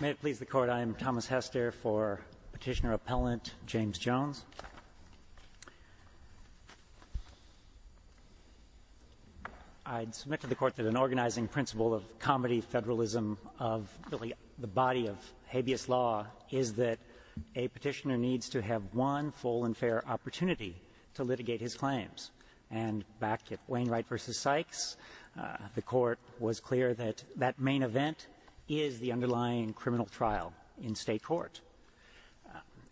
May it please the Court, I am Thomas Hester for Petitioner Appellant James Jones. I submit to the Court that an organizing principle of comedy federalism of the body of habeas law is that a petitioner needs to have one full and fair opportunity to litigate his mistakes. The Court was clear that that main event is the underlying criminal trial in state court.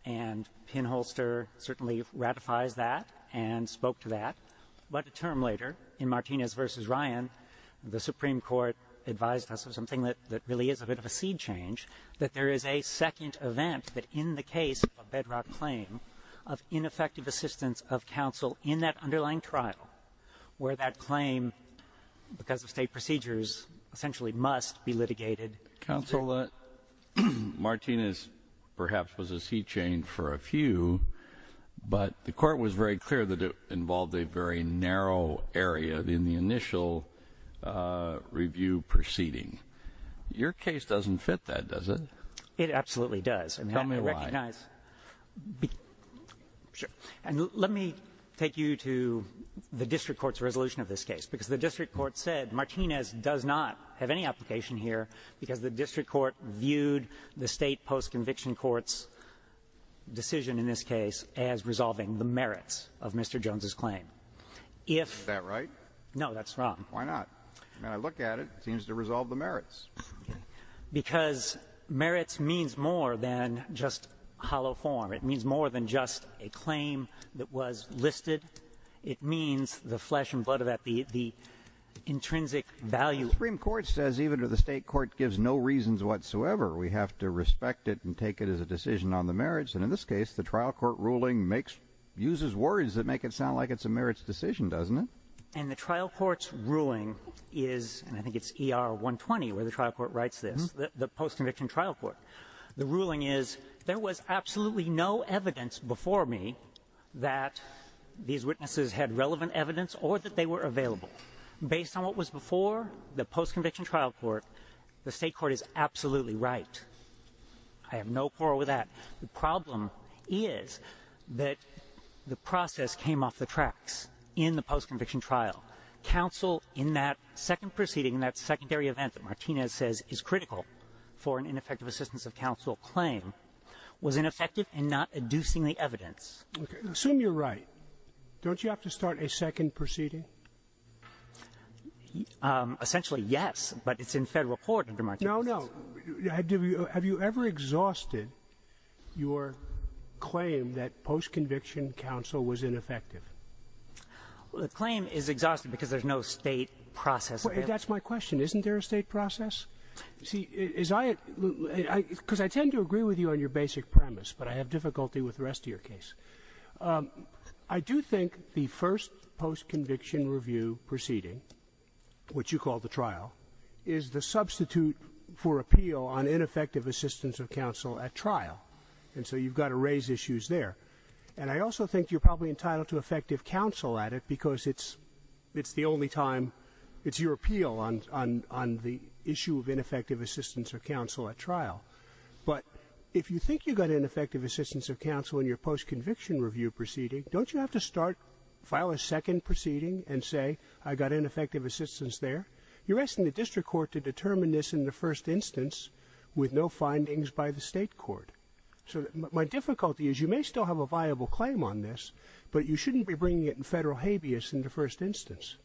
And Pinholster certainly ratifies that and spoke to that. But a term later in Martinez v. Ryan, the Supreme Court advised us of something that really is a bit of a seed change, that there is a second event that in the case of a bedrock claim of ineffective assistance of counsel in that underlying trial where that claim, because of state procedures, essentially must be litigated. Counsel, Martinez perhaps was a seed change for a few, but the Court was very clear that it involved a very narrow area in the initial review proceeding. Your case doesn't fit that, does it? It absolutely does. Tell me why. I recognize. And let me take you to the district court's resolution of this case. Because the district court said Martinez does not have any application here because the district court viewed the state post-conviction court's decision in this case as resolving the merits of Mr. Jones's claim. If that right? No, that's wrong. Why not? When I look at it, it seems to resolve the merits. Because merits means more than just hollow form. It means more than just a claim that was listed. It means the flesh and blood of that, the intrinsic value. The Supreme Court says even if the state court gives no reasons whatsoever, we have to respect it and take it as a decision on the merits. And in this case, the trial court ruling uses words that make it sound like it's a merits decision, doesn't it? And the trial court's ruling is, and I think it's ER 120 where the trial court writes this, the post-conviction trial court. The ruling is, there was absolutely no evidence before me that these witnesses had relevant evidence or that they were available. Based on what was before, the post-conviction trial court, the state court is absolutely right. I have counsel in that second proceeding, in that secondary event that Martinez says is critical for an ineffective assistance of counsel claim, was ineffective in not inducing the evidence. Okay. Assume you're right. Don't you have to start a second proceeding? Essentially, yes, but it's in federal court under Martinez. No, no. Have you ever exhausted your claim that post-conviction counsel was ineffective? The claim is exhausted because there's no state process. That's my question. Isn't there a state process? See, is I at the end, because I tend to agree with you on your basic premise, but I have difficulty with the rest of your case. I do think the first post-conviction review proceeding, which you call the trial, is the substitute for appeal on ineffective assistance of counsel at trial. And so you've got to raise issues there. And I also think you're probably entitled to effective counsel at it because it's the only time, it's your appeal on the issue of ineffective assistance of counsel at trial. But if you think you got ineffective assistance of counsel in your post-conviction review proceeding, don't you have to start, file a second proceeding and say, I got ineffective assistance there? You're asking the district court to determine this in the first instance with no findings by the state court. So my difficulty is you may still have a viable claim on this, but you shouldn't be bringing it in federal habeas in the first instance.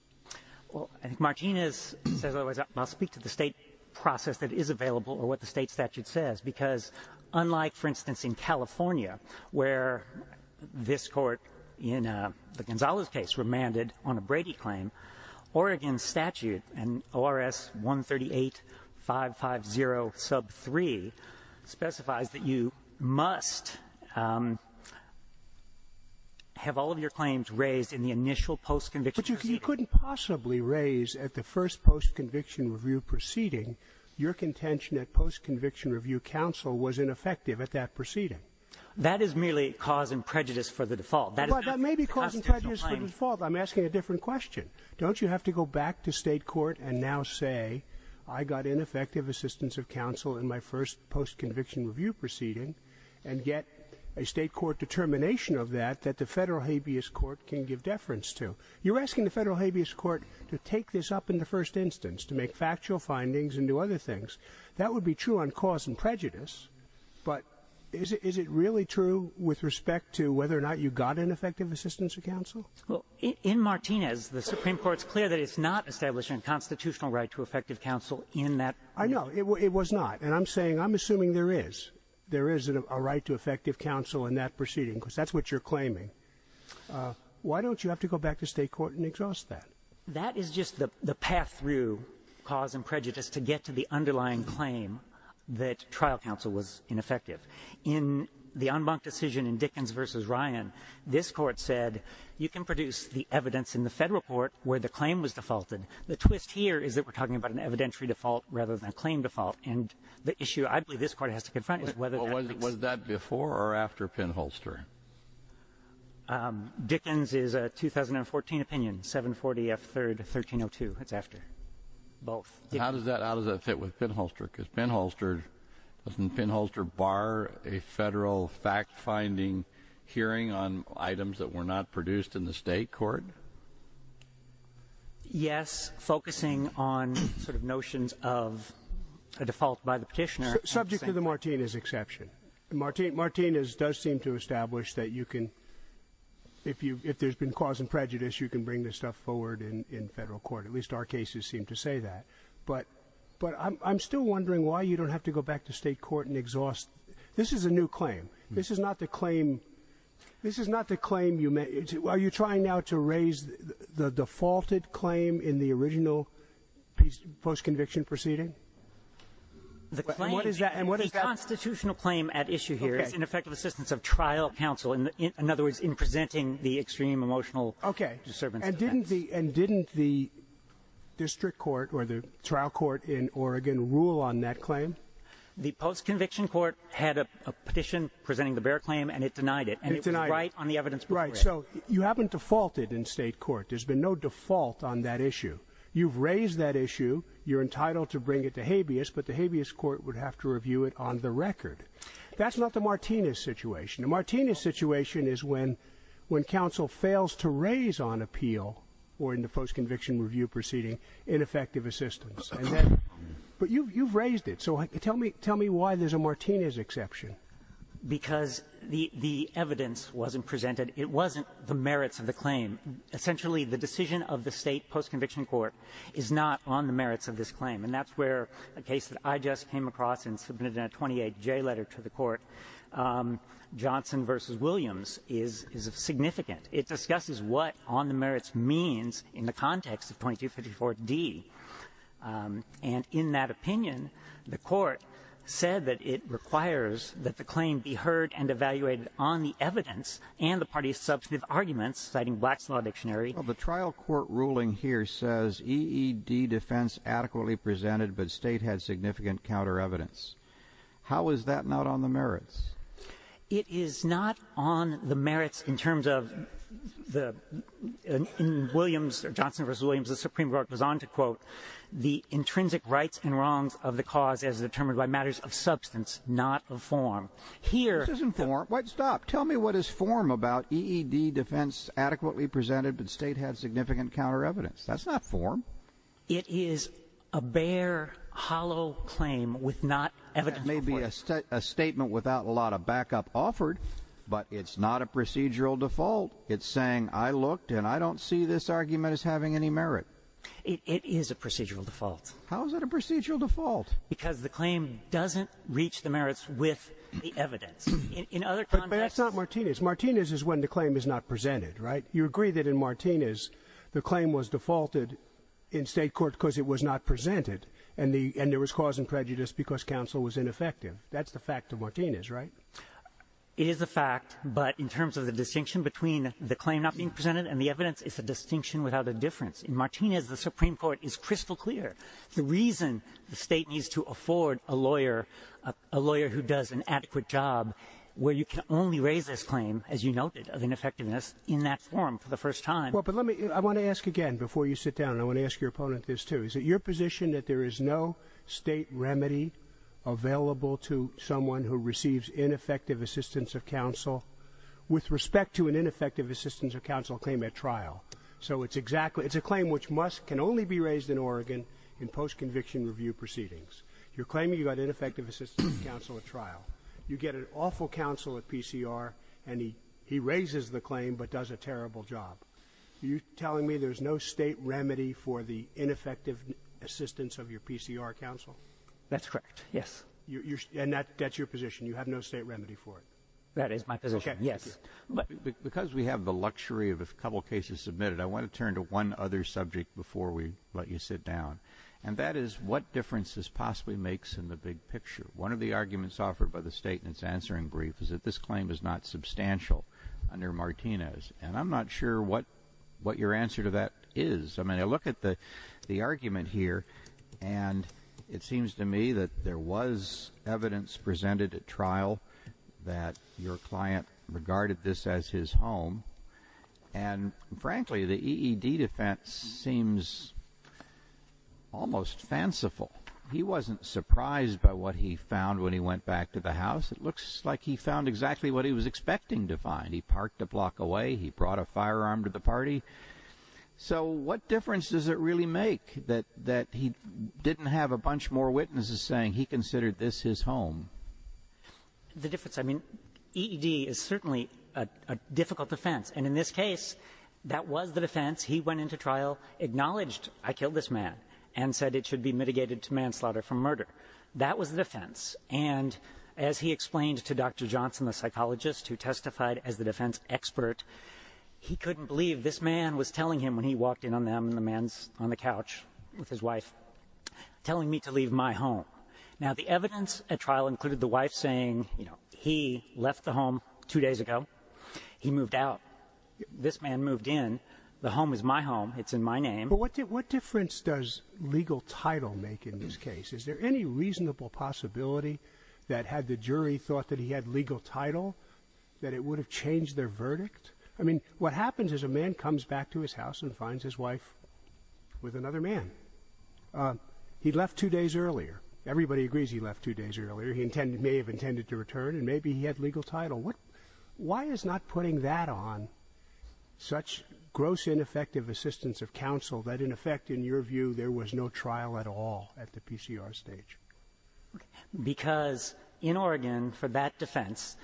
Well, I think Martinez says otherwise. I'll speak to the state process that is available or what the state statute says, because unlike, for instance, in California, where this court in the Gonzales case remanded on a Brady claim, Oregon statute and ORS 138-550-7, which is sub 3, specifies that you must have all of your claims raised in the initial post-conviction proceeding. But you couldn't possibly raise at the first post-conviction review proceeding your contention at post-conviction review counsel was ineffective at that proceeding. That is merely cause and prejudice for the default. But that may be cause and prejudice for the default. I'm asking a different question. Don't you have to go back to state court and now say, I got ineffective assistance of counsel in my first post-conviction review proceeding, and get a state court determination of that that the federal habeas court can give deference to? You're asking the federal habeas court to take this up in the first instance, to make factual findings and do other things. That would be true on cause and prejudice. But is it really true with respect to whether or not you got ineffective assistance of counsel? In Martinez, the Supreme Court's clear that it's not establishing a constitutional right to effective counsel in that. I know. It was not. And I'm saying, I'm assuming there is. There is a right to effective counsel in that proceeding, because that's what you're claiming. Why don't you have to go back to state court and exhaust that? That is just the path through cause and prejudice to get to the underlying claim that trial counsel was ineffective. In the unbunked decision in Dickens v. Ryan, this court said, you can produce the evidence in the federal court where the claim was defaulted. The twist here is that we're talking about an evidentiary default rather than a claim default. And the issue I believe this court has to confront is whether that makes sense. Was that before or after Penholster? Dickens is a 2014 opinion, 740 F. 3rd, 1302. It's after. Both. How does that fit with Penholster? Because Penholster, doesn't Penholster bar a federal fact-finding hearing on items that were not produced in the state court? Yes. Focusing on sort of notions of a default by the petitioner. Subject to the Martinez exception. Martinez does seem to establish that you can, if there has been cause and prejudice, you can bring this stuff forward in federal court. At least our cases seem to say that. But I'm still wondering why you don't have to go back to the original post-conviction proceeding. This is not the claim. This is not the claim you made. Are you trying now to raise the defaulted claim in the original post-conviction proceeding? The constitutional claim at issue here is an effective assistance of trial counsel. In other words, in presenting the extreme emotional disturbance. And didn't the district court or the trial court in Oregon rule on that claim? The post-conviction court had a petition presenting the bear claim and it denied it. And it was right on the evidence. Right. So you haven't defaulted in state court. There's been no default on that issue. You've raised that issue. You're entitled to bring it to habeas. But the habeas court would have to review it on the record. That's not the Martinez situation. The Martinez situation is when when counsel fails to raise on appeal or in the post-conviction review proceeding an effective assistance. But you've raised it. So tell me tell me why there's a Martinez exception. Because the evidence wasn't presented. It wasn't the merits of the claim. Essentially the decision of the state post-conviction court is not on the merits of this claim. And that's where a case that I just came across and submitted a 28 J letter to the court Johnson versus Williams is significant. It discusses what on the merits means in the case of D. And in that opinion the court said that it requires that the claim be heard and evaluated on the evidence and the party's substantive arguments citing Black's Law Dictionary. The trial court ruling here says EED defense adequately presented but state had significant counter evidence. How is that not on the merits? It is not on the merits in terms of the Williams or Johnson versus Williams. The Supreme Court was on to quote the intrinsic rights and wrongs of the cause as determined by matters of substance not of form. Here... It isn't form. Wait stop. Tell me what is form about EED defense adequately presented but state had significant counter evidence. That's not form. It is a bare hollow claim with not evidence. Maybe a statement without a lot of backup offered but it's not a procedural default. It's saying I looked and I don't see this argument as having any merit. It is a procedural default. How is it a procedural default? Because the claim doesn't reach the merits with the evidence. In other contexts... But that's not Martinez. Martinez is when the claim is not presented, right? You agree that in Martinez the claim was defaulted in state court because it was not presented and there was cause and prejudice because counsel was ineffective. That's the fact of Martinez, right? It is a fact but in terms of the distinction between the claim not being presented and the evidence it's a distinction without a difference. In Martinez the Supreme Court is crystal clear. The reason the state needs to afford a lawyer, a lawyer who does an adequate job where you can only raise this claim as you noted of ineffectiveness in that form for the first time... Well but let me... I want to ask again before you sit down. I want to ask your opponent this too. Is it your position that there is no state remedy available to someone who receives ineffective assistance of counsel with respect to an ineffective assistance of counsel claim at trial? So it's exactly... It's a claim which can only be raised in Oregon in post-conviction review proceedings. You're claiming you got ineffective assistance of counsel at trial. You get an awful counsel at PCR and he raises the claim but does a terrible job. Are you telling me there's no state remedy for the ineffective assistance of your PCR counsel? That's correct, yes. And that's your position? You have no state remedy for it? That is my position, yes. Because we have the luxury of a couple cases submitted, I want to turn to one other subject before we let you sit down. And that is what difference this possibly makes in the big picture. One of the arguments offered by the state in its answering brief is that this claim is not substantial under Martinez. And I'm not sure what your answer to that is. I mean I look at the argument here and it seems to me that there was evidence presented at trial that your client regarded this as his home. And frankly the EED defense seems almost fanciful. He wasn't surprised by what he found when he went back to the house. It looks like he found exactly what he was expecting to find. He parked a block away, he brought a firearm to the party. So what difference does it really make that he didn't have a home? The difference, I mean, EED is certainly a difficult defense. And in this case, that was the defense. He went into trial, acknowledged, I killed this man, and said it should be mitigated to manslaughter for murder. That was the defense. And as he explained to Dr. Johnson, the psychologist who testified as the defense expert, he couldn't believe this man was telling him when he walked in on them and the man's on the couch with his wife, telling me to leave my home. Now the evidence at trial included the wife saying, you know, he left the home two days ago. He moved out. This man moved in. The home is my home. It's in my name. What difference does legal title make in this case? Is there any reasonable possibility that had the jury thought that he had legal title, that it would have changed their verdict? I mean, what happens is a man comes back to his house and finds his wife with another man. He left two days earlier. Everybody agrees he left two days earlier. He may have intended to return, and maybe he had legal title. Why is not putting that on such gross ineffective assistance of counsel that, in effect, in your view, there was no trial at all at the PCR stage? Because in Oregon, for that defense,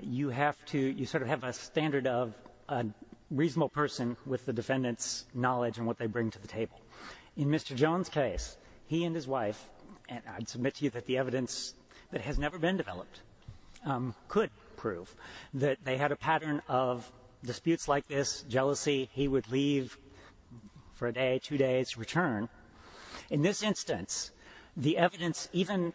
you have to, you sort of have a standard of a reasonable person with the defendant's knowledge and what they bring to the table. In Mr. Jones' case, he and his wife, and I'd submit to you that the evidence that has never been developed could prove that they had a pattern of disputes like this, jealousy, he would leave for a day, two days, return. In this instance, the evidence, even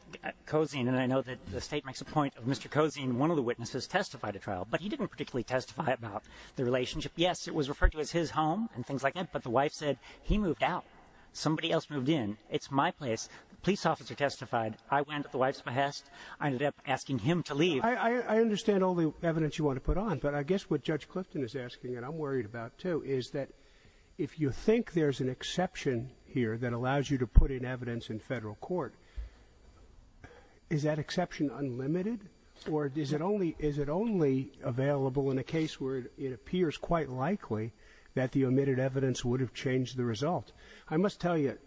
Cozine, and I know that the state makes a point of Mr. Cozine, one of the witnesses testified at trial, but he didn't particularly testify about the relationship. Yes, it was referred to as his home and things like that, but the wife said, he moved out. Somebody else moved in. It's my place. The police officer testified. I went at the wife's behest. I ended up asking him to leave. I understand all the evidence you want to put on, but I guess what Judge Clifton is asking, and I'm worried about, too, is that if you think there's an exception here that allows you to put in evidence in federal court, is that exception unlimited, or is it only available in a case where it appears quite likely that the omitted evidence would have changed the result? I must tell you,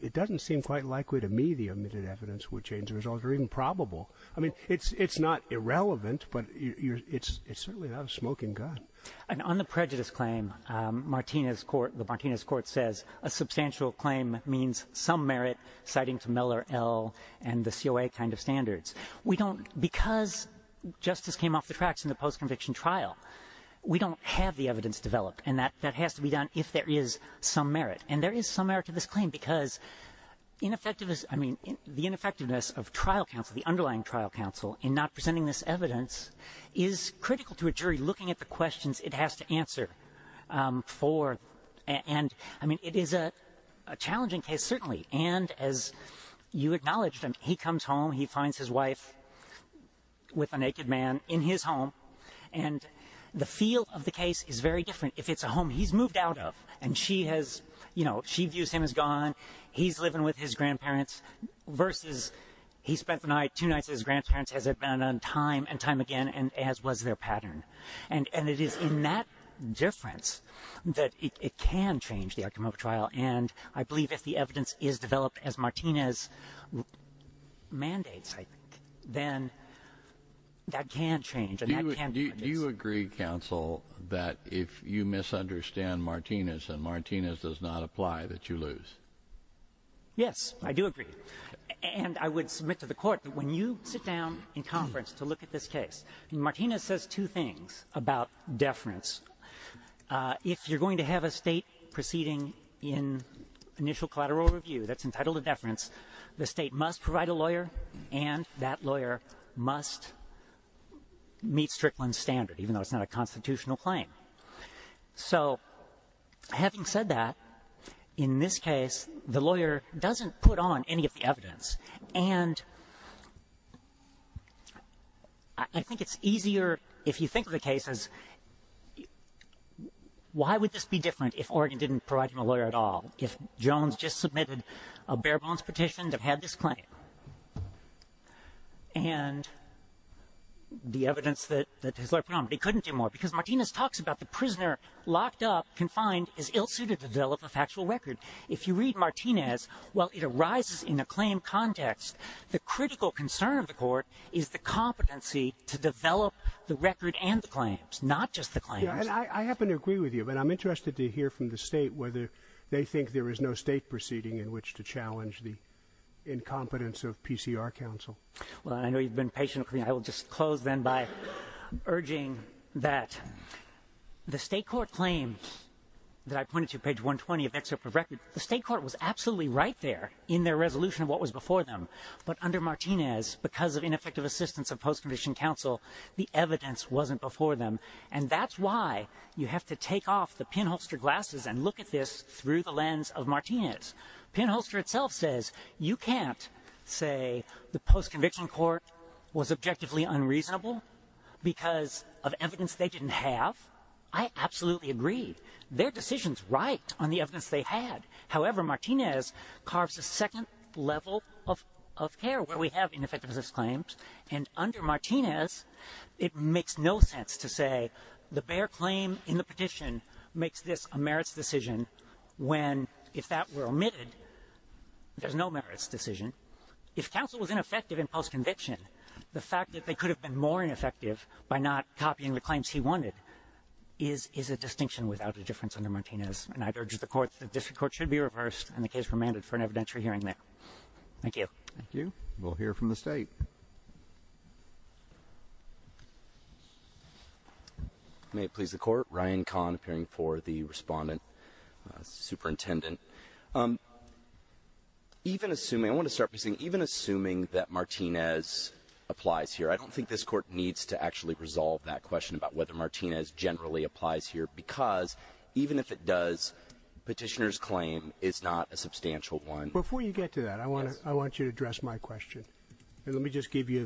it doesn't seem quite likely to me the omitted evidence would change the result, or even probable. I mean, it's not irrelevant, but it's certainly not a smoking gun. On the prejudice claim, the Martinez court says, a substantial claim means some merit citing to Miller, L., and the COA kind of standards. We don't, because justice came off the tracks in the post-conviction trial, we don't have the evidence developed, and that has to be done if there is some merit. And there is some merit to this claim, because the ineffectiveness of trial counsel, the underlying trial counsel, in not presenting this evidence is critical to a jury looking at the questions it has to answer. I mean, it is a challenging case, certainly, and as you acknowledged, he comes home, he finds his wife with a naked man in his home, and the feel of the case is very different. If it's a home he's moved out of, and she has, you know, she views him as gone, he's living with his grandparents, versus he spent the night, two nights with his grandparents, has abandoned time and time again, and as was their pattern. And it is in that difference that it can change the outcome of a trial, and I believe if the evidence is developed as Martinez mandates, I think, then that can change, and that can be reduced. Do you agree, counsel, that if you misunderstand Martinez and Martinez does not apply, that you lose? Yes, I do agree. And I would submit to the Court that when you sit down in conference to look at this case, and Martinez says two things about deference. If you're going to have a state proceeding in initial collateral review that's entitled to deference, the state must provide a lawyer, and that lawyer must meet Strickland's standard, even though it's not a constitutional claim. So, having said that, in this case, the lawyer doesn't put on any of the evidence, and I think it's easier, if you think of the cases, why would this be different if Oregon didn't provide him a lawyer at all? If Jones just submitted a bare-bones petition that had this claim, and the evidence that his lawyer put on, but he couldn't do more, because Martinez talks about the prisoner, locked up, confined, is ill-suited to develop a factual record. If you read Martinez, while it arises in a claim context, the critical concern of the Court is the competency to develop the record and the claims, not just the claims. And I happen to agree with you, but I'm interested to hear from the state whether they think there is no state proceeding in which to challenge the incompetence of PCR counsel. Well, I know you've been patient. I will just close, then, by urging that the state court claim that I pointed to, page 120 of the excerpt of the record, the state court was absolutely right there in their resolution of what was before them, but under Martinez, because of ineffective assistance of post-conviction counsel, the evidence wasn't before them, and that's why you have to take off the pinholster glasses and look at this through the lens of Martinez. Pinholster itself says you can't say the post-conviction court was objectively unreasonable because of evidence they didn't have. I absolutely agree. Their decision's right on the evidence they had. However, Martinez carves a second level of care where we have ineffective assistance claims, and under Martinez, it makes no sense to say the bare claim in the petition makes this a merits decision when, if that were omitted, there's no merits decision. If counsel was ineffective in post-conviction, the fact that they could have been more ineffective by not copying the claims he wanted is a distinction without a difference under Martinez, and I'd urge the district court should be reversed, and the case remanded for an evidentiary hearing there. Thank you. Thank you. We'll hear from the state. May it please the court. Ryan Kahn, appearing for the respondent, superintendent. Even assuming, I want to start by saying, even assuming that Martinez applies here, I don't think this court needs to actually resolve that question about whether Martinez generally applies here, because even if it does, petitioner's claim is not a substantial one. Before you get to that, I want you to address my question. Let me just give you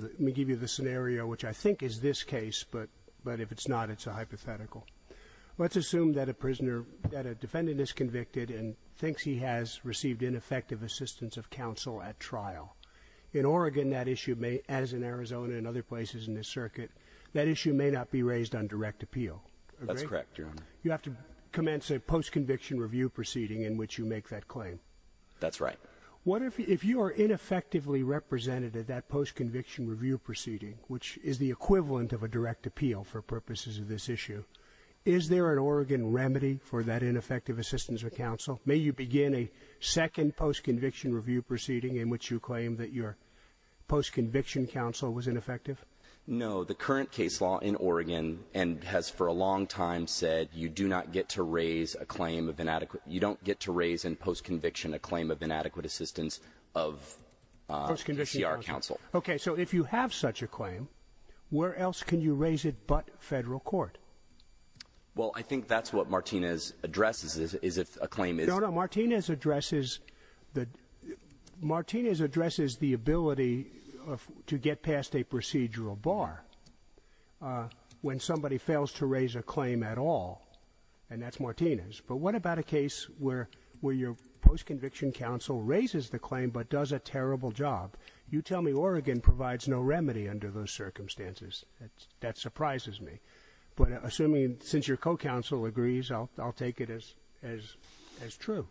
the scenario, which I think is this case, but if it's not, it's a hypothetical. Let's assume that a defendant is convicted and thinks he has received ineffective assistance of counsel at trial. In Oregon, that issue may, as in Arizona and other places in this circuit, that issue may not be raised on direct appeal. That's correct, Your Honor. You have to commence a post-conviction review proceeding in which you make that claim. That's right. What if, if you are ineffectively represented at that post-conviction review proceeding, which is the equivalent of a direct appeal for purposes of this issue, is there an Oregon remedy for that ineffective assistance of counsel? May you begin a second post-conviction review proceeding in which you claim that your post-conviction counsel was ineffective? No, the current case law in Oregon and has for a long time said you do not get to raise a claim of inadequate, you don't get to raise in post-conviction a claim of inadequate assistance of CR counsel. Post-conviction counsel. Okay, so if you have such a claim, where else can you raise it but federal court? Well I think that's what Martinez addresses, is if a claim is No, no, Martinez addresses the, Martinez addresses the ability to get past a procedural bar when somebody fails to raise a claim at all, and that's Martinez. But what about a case where your post-conviction counsel raises the claim but does a terrible job? You tell me Oregon provides no remedy under those circumstances. That surprises me. But assuming, since your co-counsel agrees, I'll take it as true.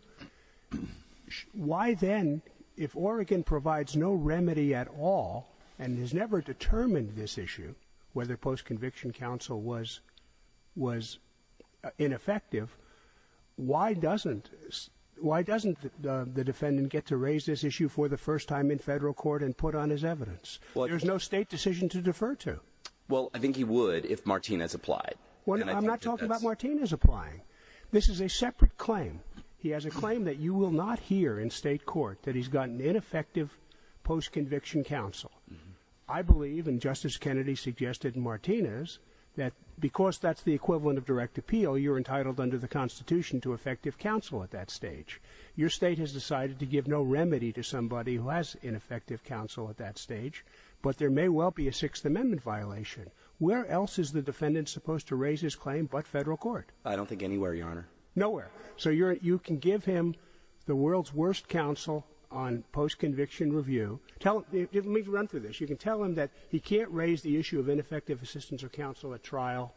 Why then, if Oregon provides no remedy at all and has never determined this issue, whether post-conviction counsel was, was ineffective, why doesn't, why doesn't the defendant get to raise this issue for the first time in federal court and put on his evidence? There's no state decision to defer to. Well I think he would if Martinez applied. Well I'm not talking about Martinez applying. This is a separate claim. He has a claim that you will not hear in state court that he's got an ineffective post-conviction counsel. I believe, and Justice Kennedy suggested in Martinez, that because that's the equivalent of direct appeal, you're entitled under the Constitution to effective counsel at that stage. Your state has decided to give no remedy to somebody who has ineffective counsel at that stage, but there may well be a Sixth Amendment violation. Where else is the defendant supposed to raise his claim but federal court? I don't think anywhere, Your Honor. Nowhere. So you're, you can give him the world's worst counsel on post-conviction review. Tell him, let me run through this. You can tell him that he can't raise the issue of ineffective assistance of counsel at trial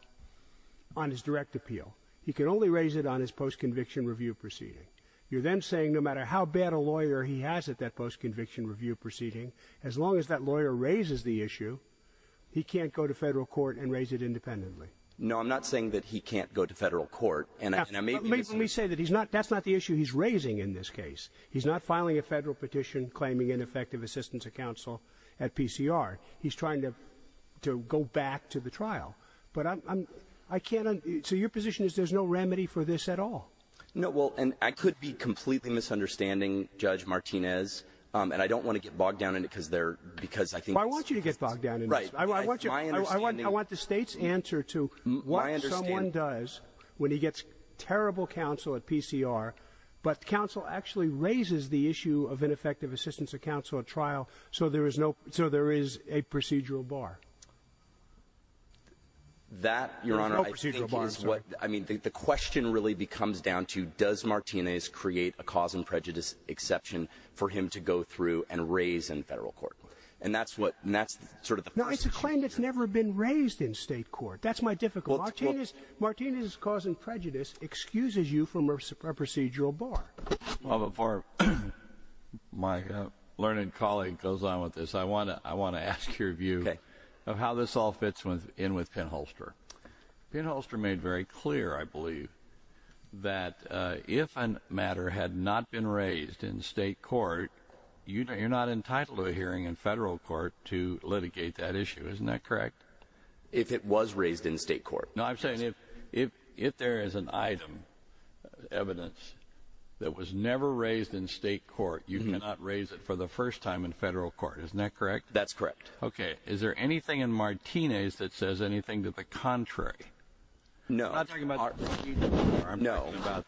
on his direct appeal. He can only raise it on his post-conviction review proceeding. You're then saying no matter how bad a lawyer he has at that post-conviction review proceeding, as long as that lawyer raises the issue, he can't go to federal court and raise it independently. No, I'm not saying that he can't go to federal court. Now, let me say that he's not, that's not the issue he's raising in this case. He's not filing a federal petition claiming ineffective assistance of counsel at PCR. He's trying to, to go back to the trial. But I'm, I can't, so your position is there's no remedy for this at all? No, well, and I could be completely misunderstanding Judge Martinez, and I don't want to get bogged down in it because they're, because I think... Right. I want you, I want, I want the State's answer to what someone does when he gets terrible counsel at PCR, but counsel actually raises the issue of ineffective assistance of counsel at trial, so there is no, so there is a procedural bar. That Your Honor, I think is what, I mean, the question really becomes down to does Martinez create a cause and prejudice exception for him to go through and raise in federal court? And that's what, and that's sort of the... No, it's a claim that's never been raised in state court. That's my difficulty. Martinez, Martinez's cause and prejudice excuses you from a procedural bar. Well, before my learned colleague goes on with this, I want to, I want to ask your view of how this all fits in with Penn Holster. Penn Holster made very clear, I believe, that if a matter had not been raised in state court, you're not entitled to a hearing in federal court to litigate that issue. Isn't that correct? If it was raised in state court. No, I'm saying if, if, if there is an item, evidence, that was never raised in state court, you cannot raise it for the first time in federal court. Isn't that correct? That's correct. Okay. Is there anything in Martinez that says anything to the contrary? No. I'm not talking about litigation. I'm talking about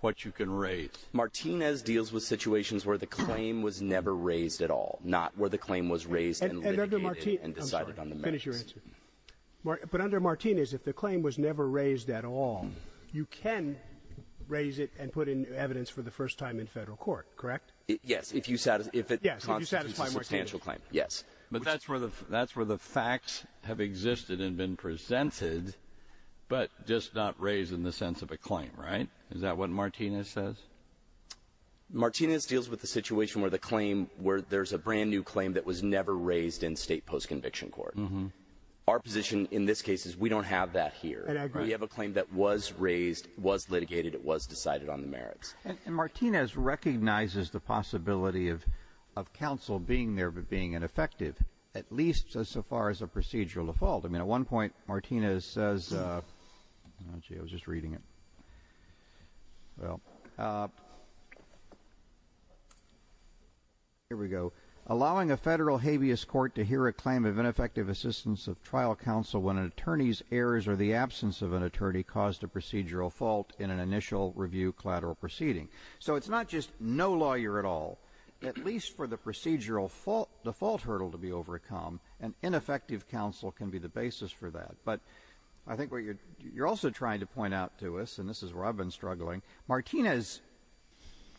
what you can raise. Martinez deals with situations where the claim was never raised at all, not where the claim was raised and litigated and decided on the merits. And under Martinez, I'm sorry, finish your answer. But under Martinez, if the claim was never raised at all, you can raise it and put in evidence for the first time in federal court, correct? Yes, if you, if it constitutes a substantial claim. Yes. But that's where the, that's where the facts have existed and been presented, but just not raised in the sense of a claim, right? Is that what Martinez says? Martinez deals with the situation where the claim where there's a brand new claim that was never raised in state post conviction court. Our position in this case is we don't have that here. We have a claim that was raised, was litigated. It was decided on the merits. And Martinez recognizes the possibility of, of counsel being there, but being ineffective at least so far as a procedural default. I mean, at one point Martinez says, I was just reading it. Well, here we go. Allowing a federal habeas court to hear a claim of ineffective assistance of trial counsel when an attorney's errors or the absence of an attorney caused a procedural fault in an initial review collateral proceeding. So it's not just no lawyer at all, at least for the procedural default hurdle to be overcome and ineffective counsel can be the basis for that. But I think what you're, you're also trying to point out to us, and this is where I've been struggling. Martinez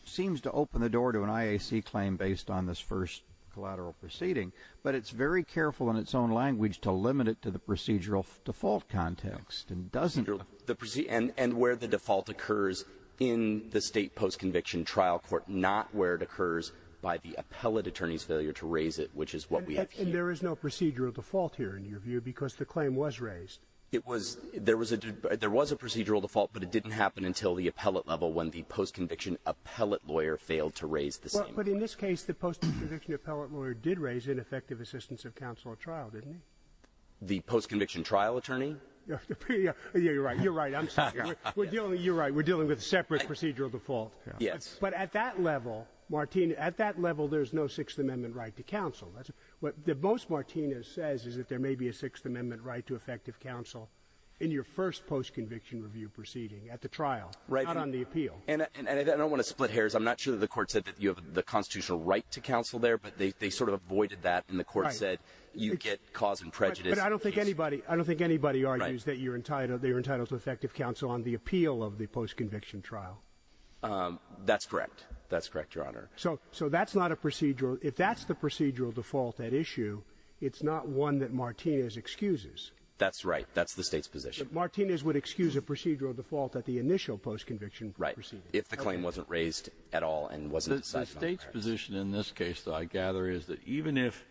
seems to open the door to an IAC claim based on this first collateral proceeding, but it's very careful in its own language to limit it to the procedural default context and doesn't the procedure and, and where the default occurs in the state post-conviction trial court, not where it occurs by the appellate attorney's failure to raise it, which is what we have here is no procedural default here in your view, because the claim was raised. It was, there was a, there was a procedural default, but it didn't happen until the appellate level when the post-conviction appellate lawyer failed to raise the same, but in this case, the post-conviction appellate lawyer did raise an effective assistance of counsel at trial, didn't he? The post-conviction trial attorney? Yeah, you're right. You're right. I'm sorry. We're dealing, you're right. We're dealing with separate procedural default. Yes. But at that level, Martin, at that level, there's no sixth amendment right to counsel. That's what the most Martinez says is that there may be a sixth amendment right to effective counsel in your first post-conviction review proceeding at the trial, right on the appeal. And I don't want to split hairs. I'm not sure that the court said that you have the constitutional right to counsel there, but they, they sort of avoided that. And the court said you get cause and prejudice. I don't think anybody, I don't think anybody argues that you're entitled, they were entitled to effective counsel on the appeal of the post-conviction trial. Um, that's correct. That's correct. Your honor. So, so that's not a procedural. If that's the procedural default at issue, it's not one that Martinez excuses. That's right. That's the state's position. Martinez would excuse a procedural default at the initial post-conviction. Right. If the claim wasn't raised at all and the state's position in this case though, I gather is that even if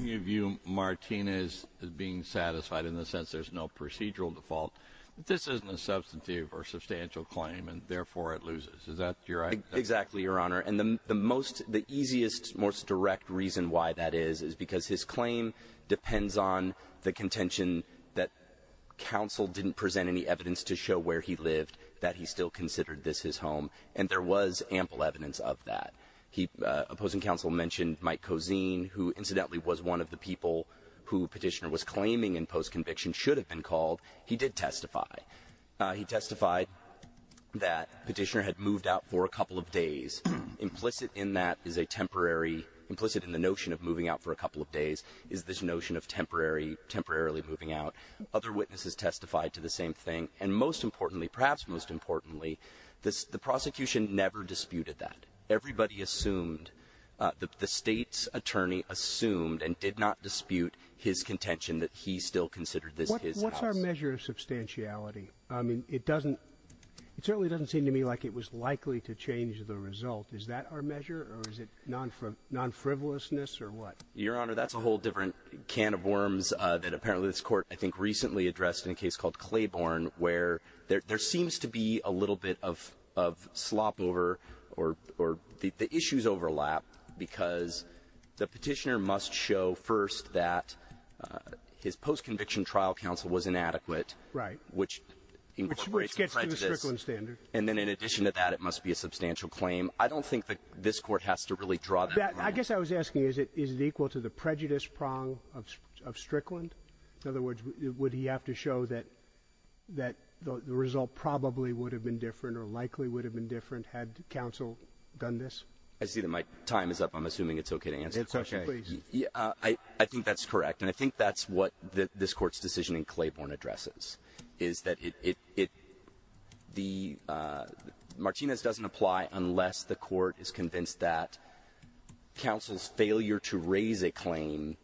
you view Martinez as being satisfied in the sense there's no procedural default, this isn't a substantive or substantial claim and therefore it loses. Is that your right? Exactly. Your honor. And the most, the easiest, most direct reason why that is, is because his claim depends on the contention that counsel didn't present any evidence to show where he lived, that he still considered this his home. And there was ample evidence of that. He, uh, opposing counsel mentioned Mike Cozine, who incidentally was one of the people who petitioner was claiming in post-conviction should have been called. He did testify. Uh, he testified that petitioner had moved out for a couple of days. Implicit in that is a temporary implicit in the notion of moving out for a couple of days is this notion of temporary temporarily moving out. Other witnesses testified to the same thing. And most importantly, perhaps most importantly, this, the prosecution never disputed that. Everybody assumed, uh, the, the state's attorney assumed and did not dispute his contention that he still considered this. What's our measure of substantiality? I mean, it doesn't, it certainly doesn't seem to me like it was likely to change the result. Is that our measure or is it non non frivolousness or what? Your recently addressed in a case called Claiborne where there seems to be a little bit of, of slop over or, or the issues overlap because the petitioner must show first that his post-conviction trial counsel was inadequate, right? Which gets to the standard. And then in addition to that, it must be a substantial claim. I don't think that this court has to really draw that. I guess I was asking, is it, is it equal to the prejudice prong of, of Strickland? In other words, would he have to show that, that the result probably would have been different or likely would have been different had counsel done this? I see that my time is up. I'm assuming it's okay to answer the question. Yeah, I think that's correct. And I think that's what the, this court's decision in Claiborne addresses is that it, it, it, the, uh, Martinez doesn't apply unless the court is convinced that counsel's failure to raise a claim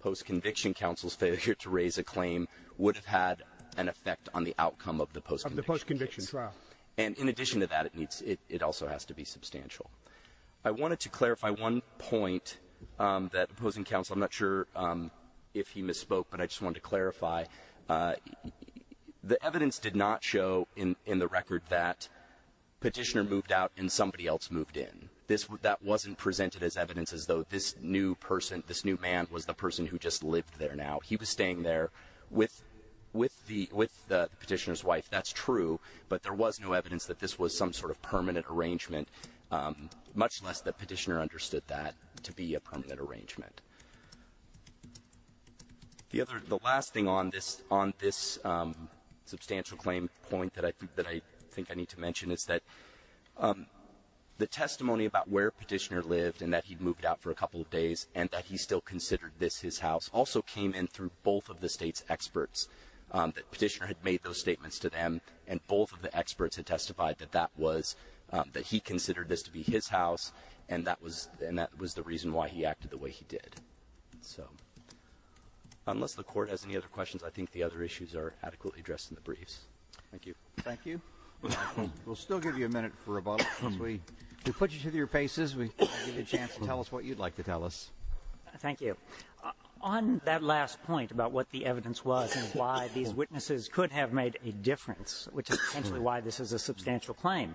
post-conviction counsel's failure to raise a claim would have had an effect on the outcome of the post-conviction trial. And in addition to that, it needs, it, it also has to be substantial. I wanted to clarify one point, um, that opposing counsel, I'm not sure, um, if he misspoke, but I just wanted to clarify, uh, the evidence did not show in, in the record that petitioner moved out and somebody else moved in. This, that wasn't presented as evidence as though this new person, this new man was the person who just lived there now. He was staying there with, with the, with the petitioner's wife. That's true, but there was no evidence that this was some sort of permanent arrangement, um, much less the petitioner understood that to be a permanent arrangement. The other, the last thing on this, on this, um, substantial claim point that I think, that I think I need to mention is that, um, the testimony about where petitioner lived and that he'd moved out for a couple of days and that he still considered this his house also came in through both of the state's experts, um, that petitioner had made those statements to them. And both of the experts had testified that that was, um, that he considered this to be his house. And that was, and that was the reason why he acted the way he did. So unless the court has any other questions, I think the other issues are adequately addressed in the briefs. Thank you. Thank you. We'll still give you a minute for rebuttal. As we put you to your faces, we give you a chance to tell us what you'd like to tell us. Thank you. On that last point about what the evidence was and why these witnesses could have made a difference, which is potentially why this is a substantial claim.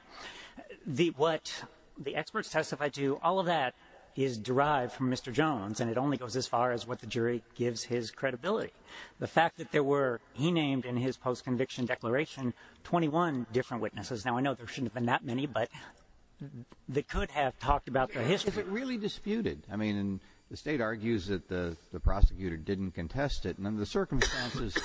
The, what the experts testified to, all of that is derived from Mr. Jones and it only goes as far as what the jury gives his credibility. The fact that there were, he named in his post conviction declaration, 21 different witnesses. Now I know there shouldn't have been that many, but they could have talked about the history really disputed. I mean, and the state argues that the prosecutor didn't contest it. And then the circumstances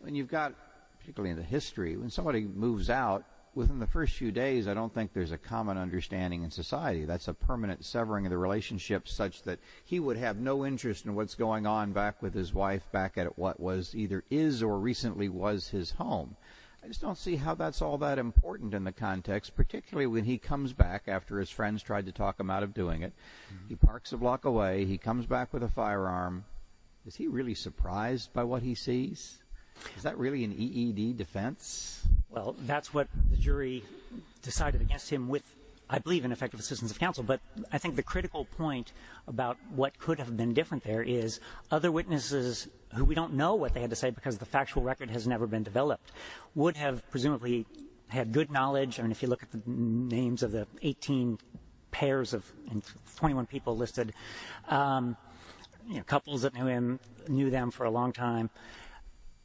when you've got particularly in the history, when somebody moves out within the first few days, I don't think there's a common understanding in society. That's a permanent severing of the relationship such that he would have no interest in what's going on back with his wife back at what was either is or recently was his home. I just don't see how that's all that important in the context, particularly when he comes back after his friends tried to talk him out of doing it. He parks a block away, he comes back with a firearm. Is he really surprised by what he sees? Is that really an EED defense? Well, that's what the jury decided against him with, I believe in effective assistance of counsel. But I think the critical point about what could have been different there is other witnesses who we don't know what they had to say because the factual record has never been developed would have presumably had good knowledge. And if you look at the names of the 18 pairs of 21 people listed, couples that knew him, knew them for a long time,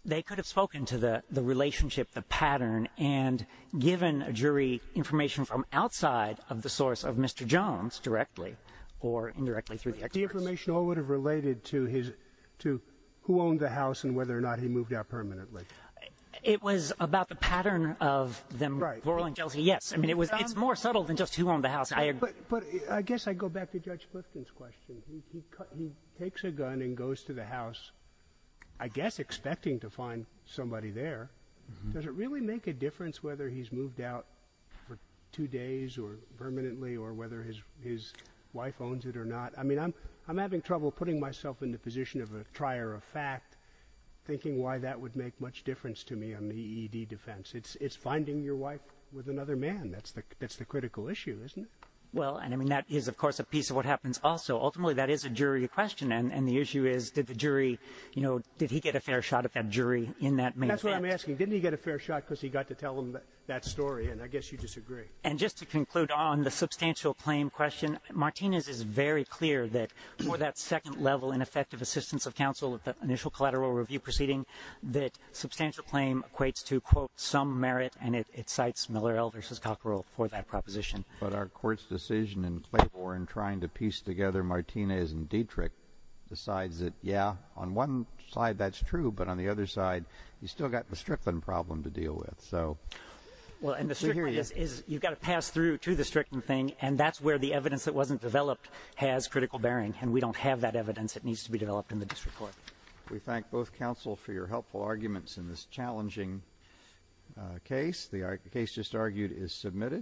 they could have spoken to the relationship, the pattern and given a jury information from outside of the source of Mr. Jones directly or indirectly through the information or would have related to his who owned the house and whether or not he moved out permanently. It was about the pattern of them. Right. Yes. I mean, it was more subtle than just who owned the house. But I guess I go back to Judge Clifton's question. He takes a gun and goes to the house, I guess, expecting to find somebody there. Does it really make a difference whether he's moved out for two days or permanently or whether his his wife owns it or not? I mean, I'm I'm having trouble putting myself in the position of a trier of fact, thinking why that would make much difference to me on the defense. It's finding your wife with another man. That's the that's the critical issue, isn't it? Well, I mean, that is, of course, a piece of what happens also. Ultimately, that is a jury question. And the issue is that the jury, you know, did he get a fair shot at that jury in that? That's what I'm asking. Didn't he get a fair shot because he got to tell him that story? And I guess you disagree. And just to conclude on the substantial claim question, Martinez is very clear that for that second level ineffective assistance of counsel at the initial collateral review proceeding, that substantial claim equates to, quote, some merit. And it cites Miller versus Cockerell for that proposition. But our court's decision in Claymore and trying to piece together Martinez and Dietrich decides that, yeah, on one side, that's true. But on the other side, you've still got the Strickland problem to deal with. So well, and this is you've got to pass to the Strickland thing. And that's where the evidence that wasn't developed has critical bearing. And we don't have that evidence that needs to be developed in the district court. We thank both counsel for your helpful arguments in this challenging case. The case just argued is submitted.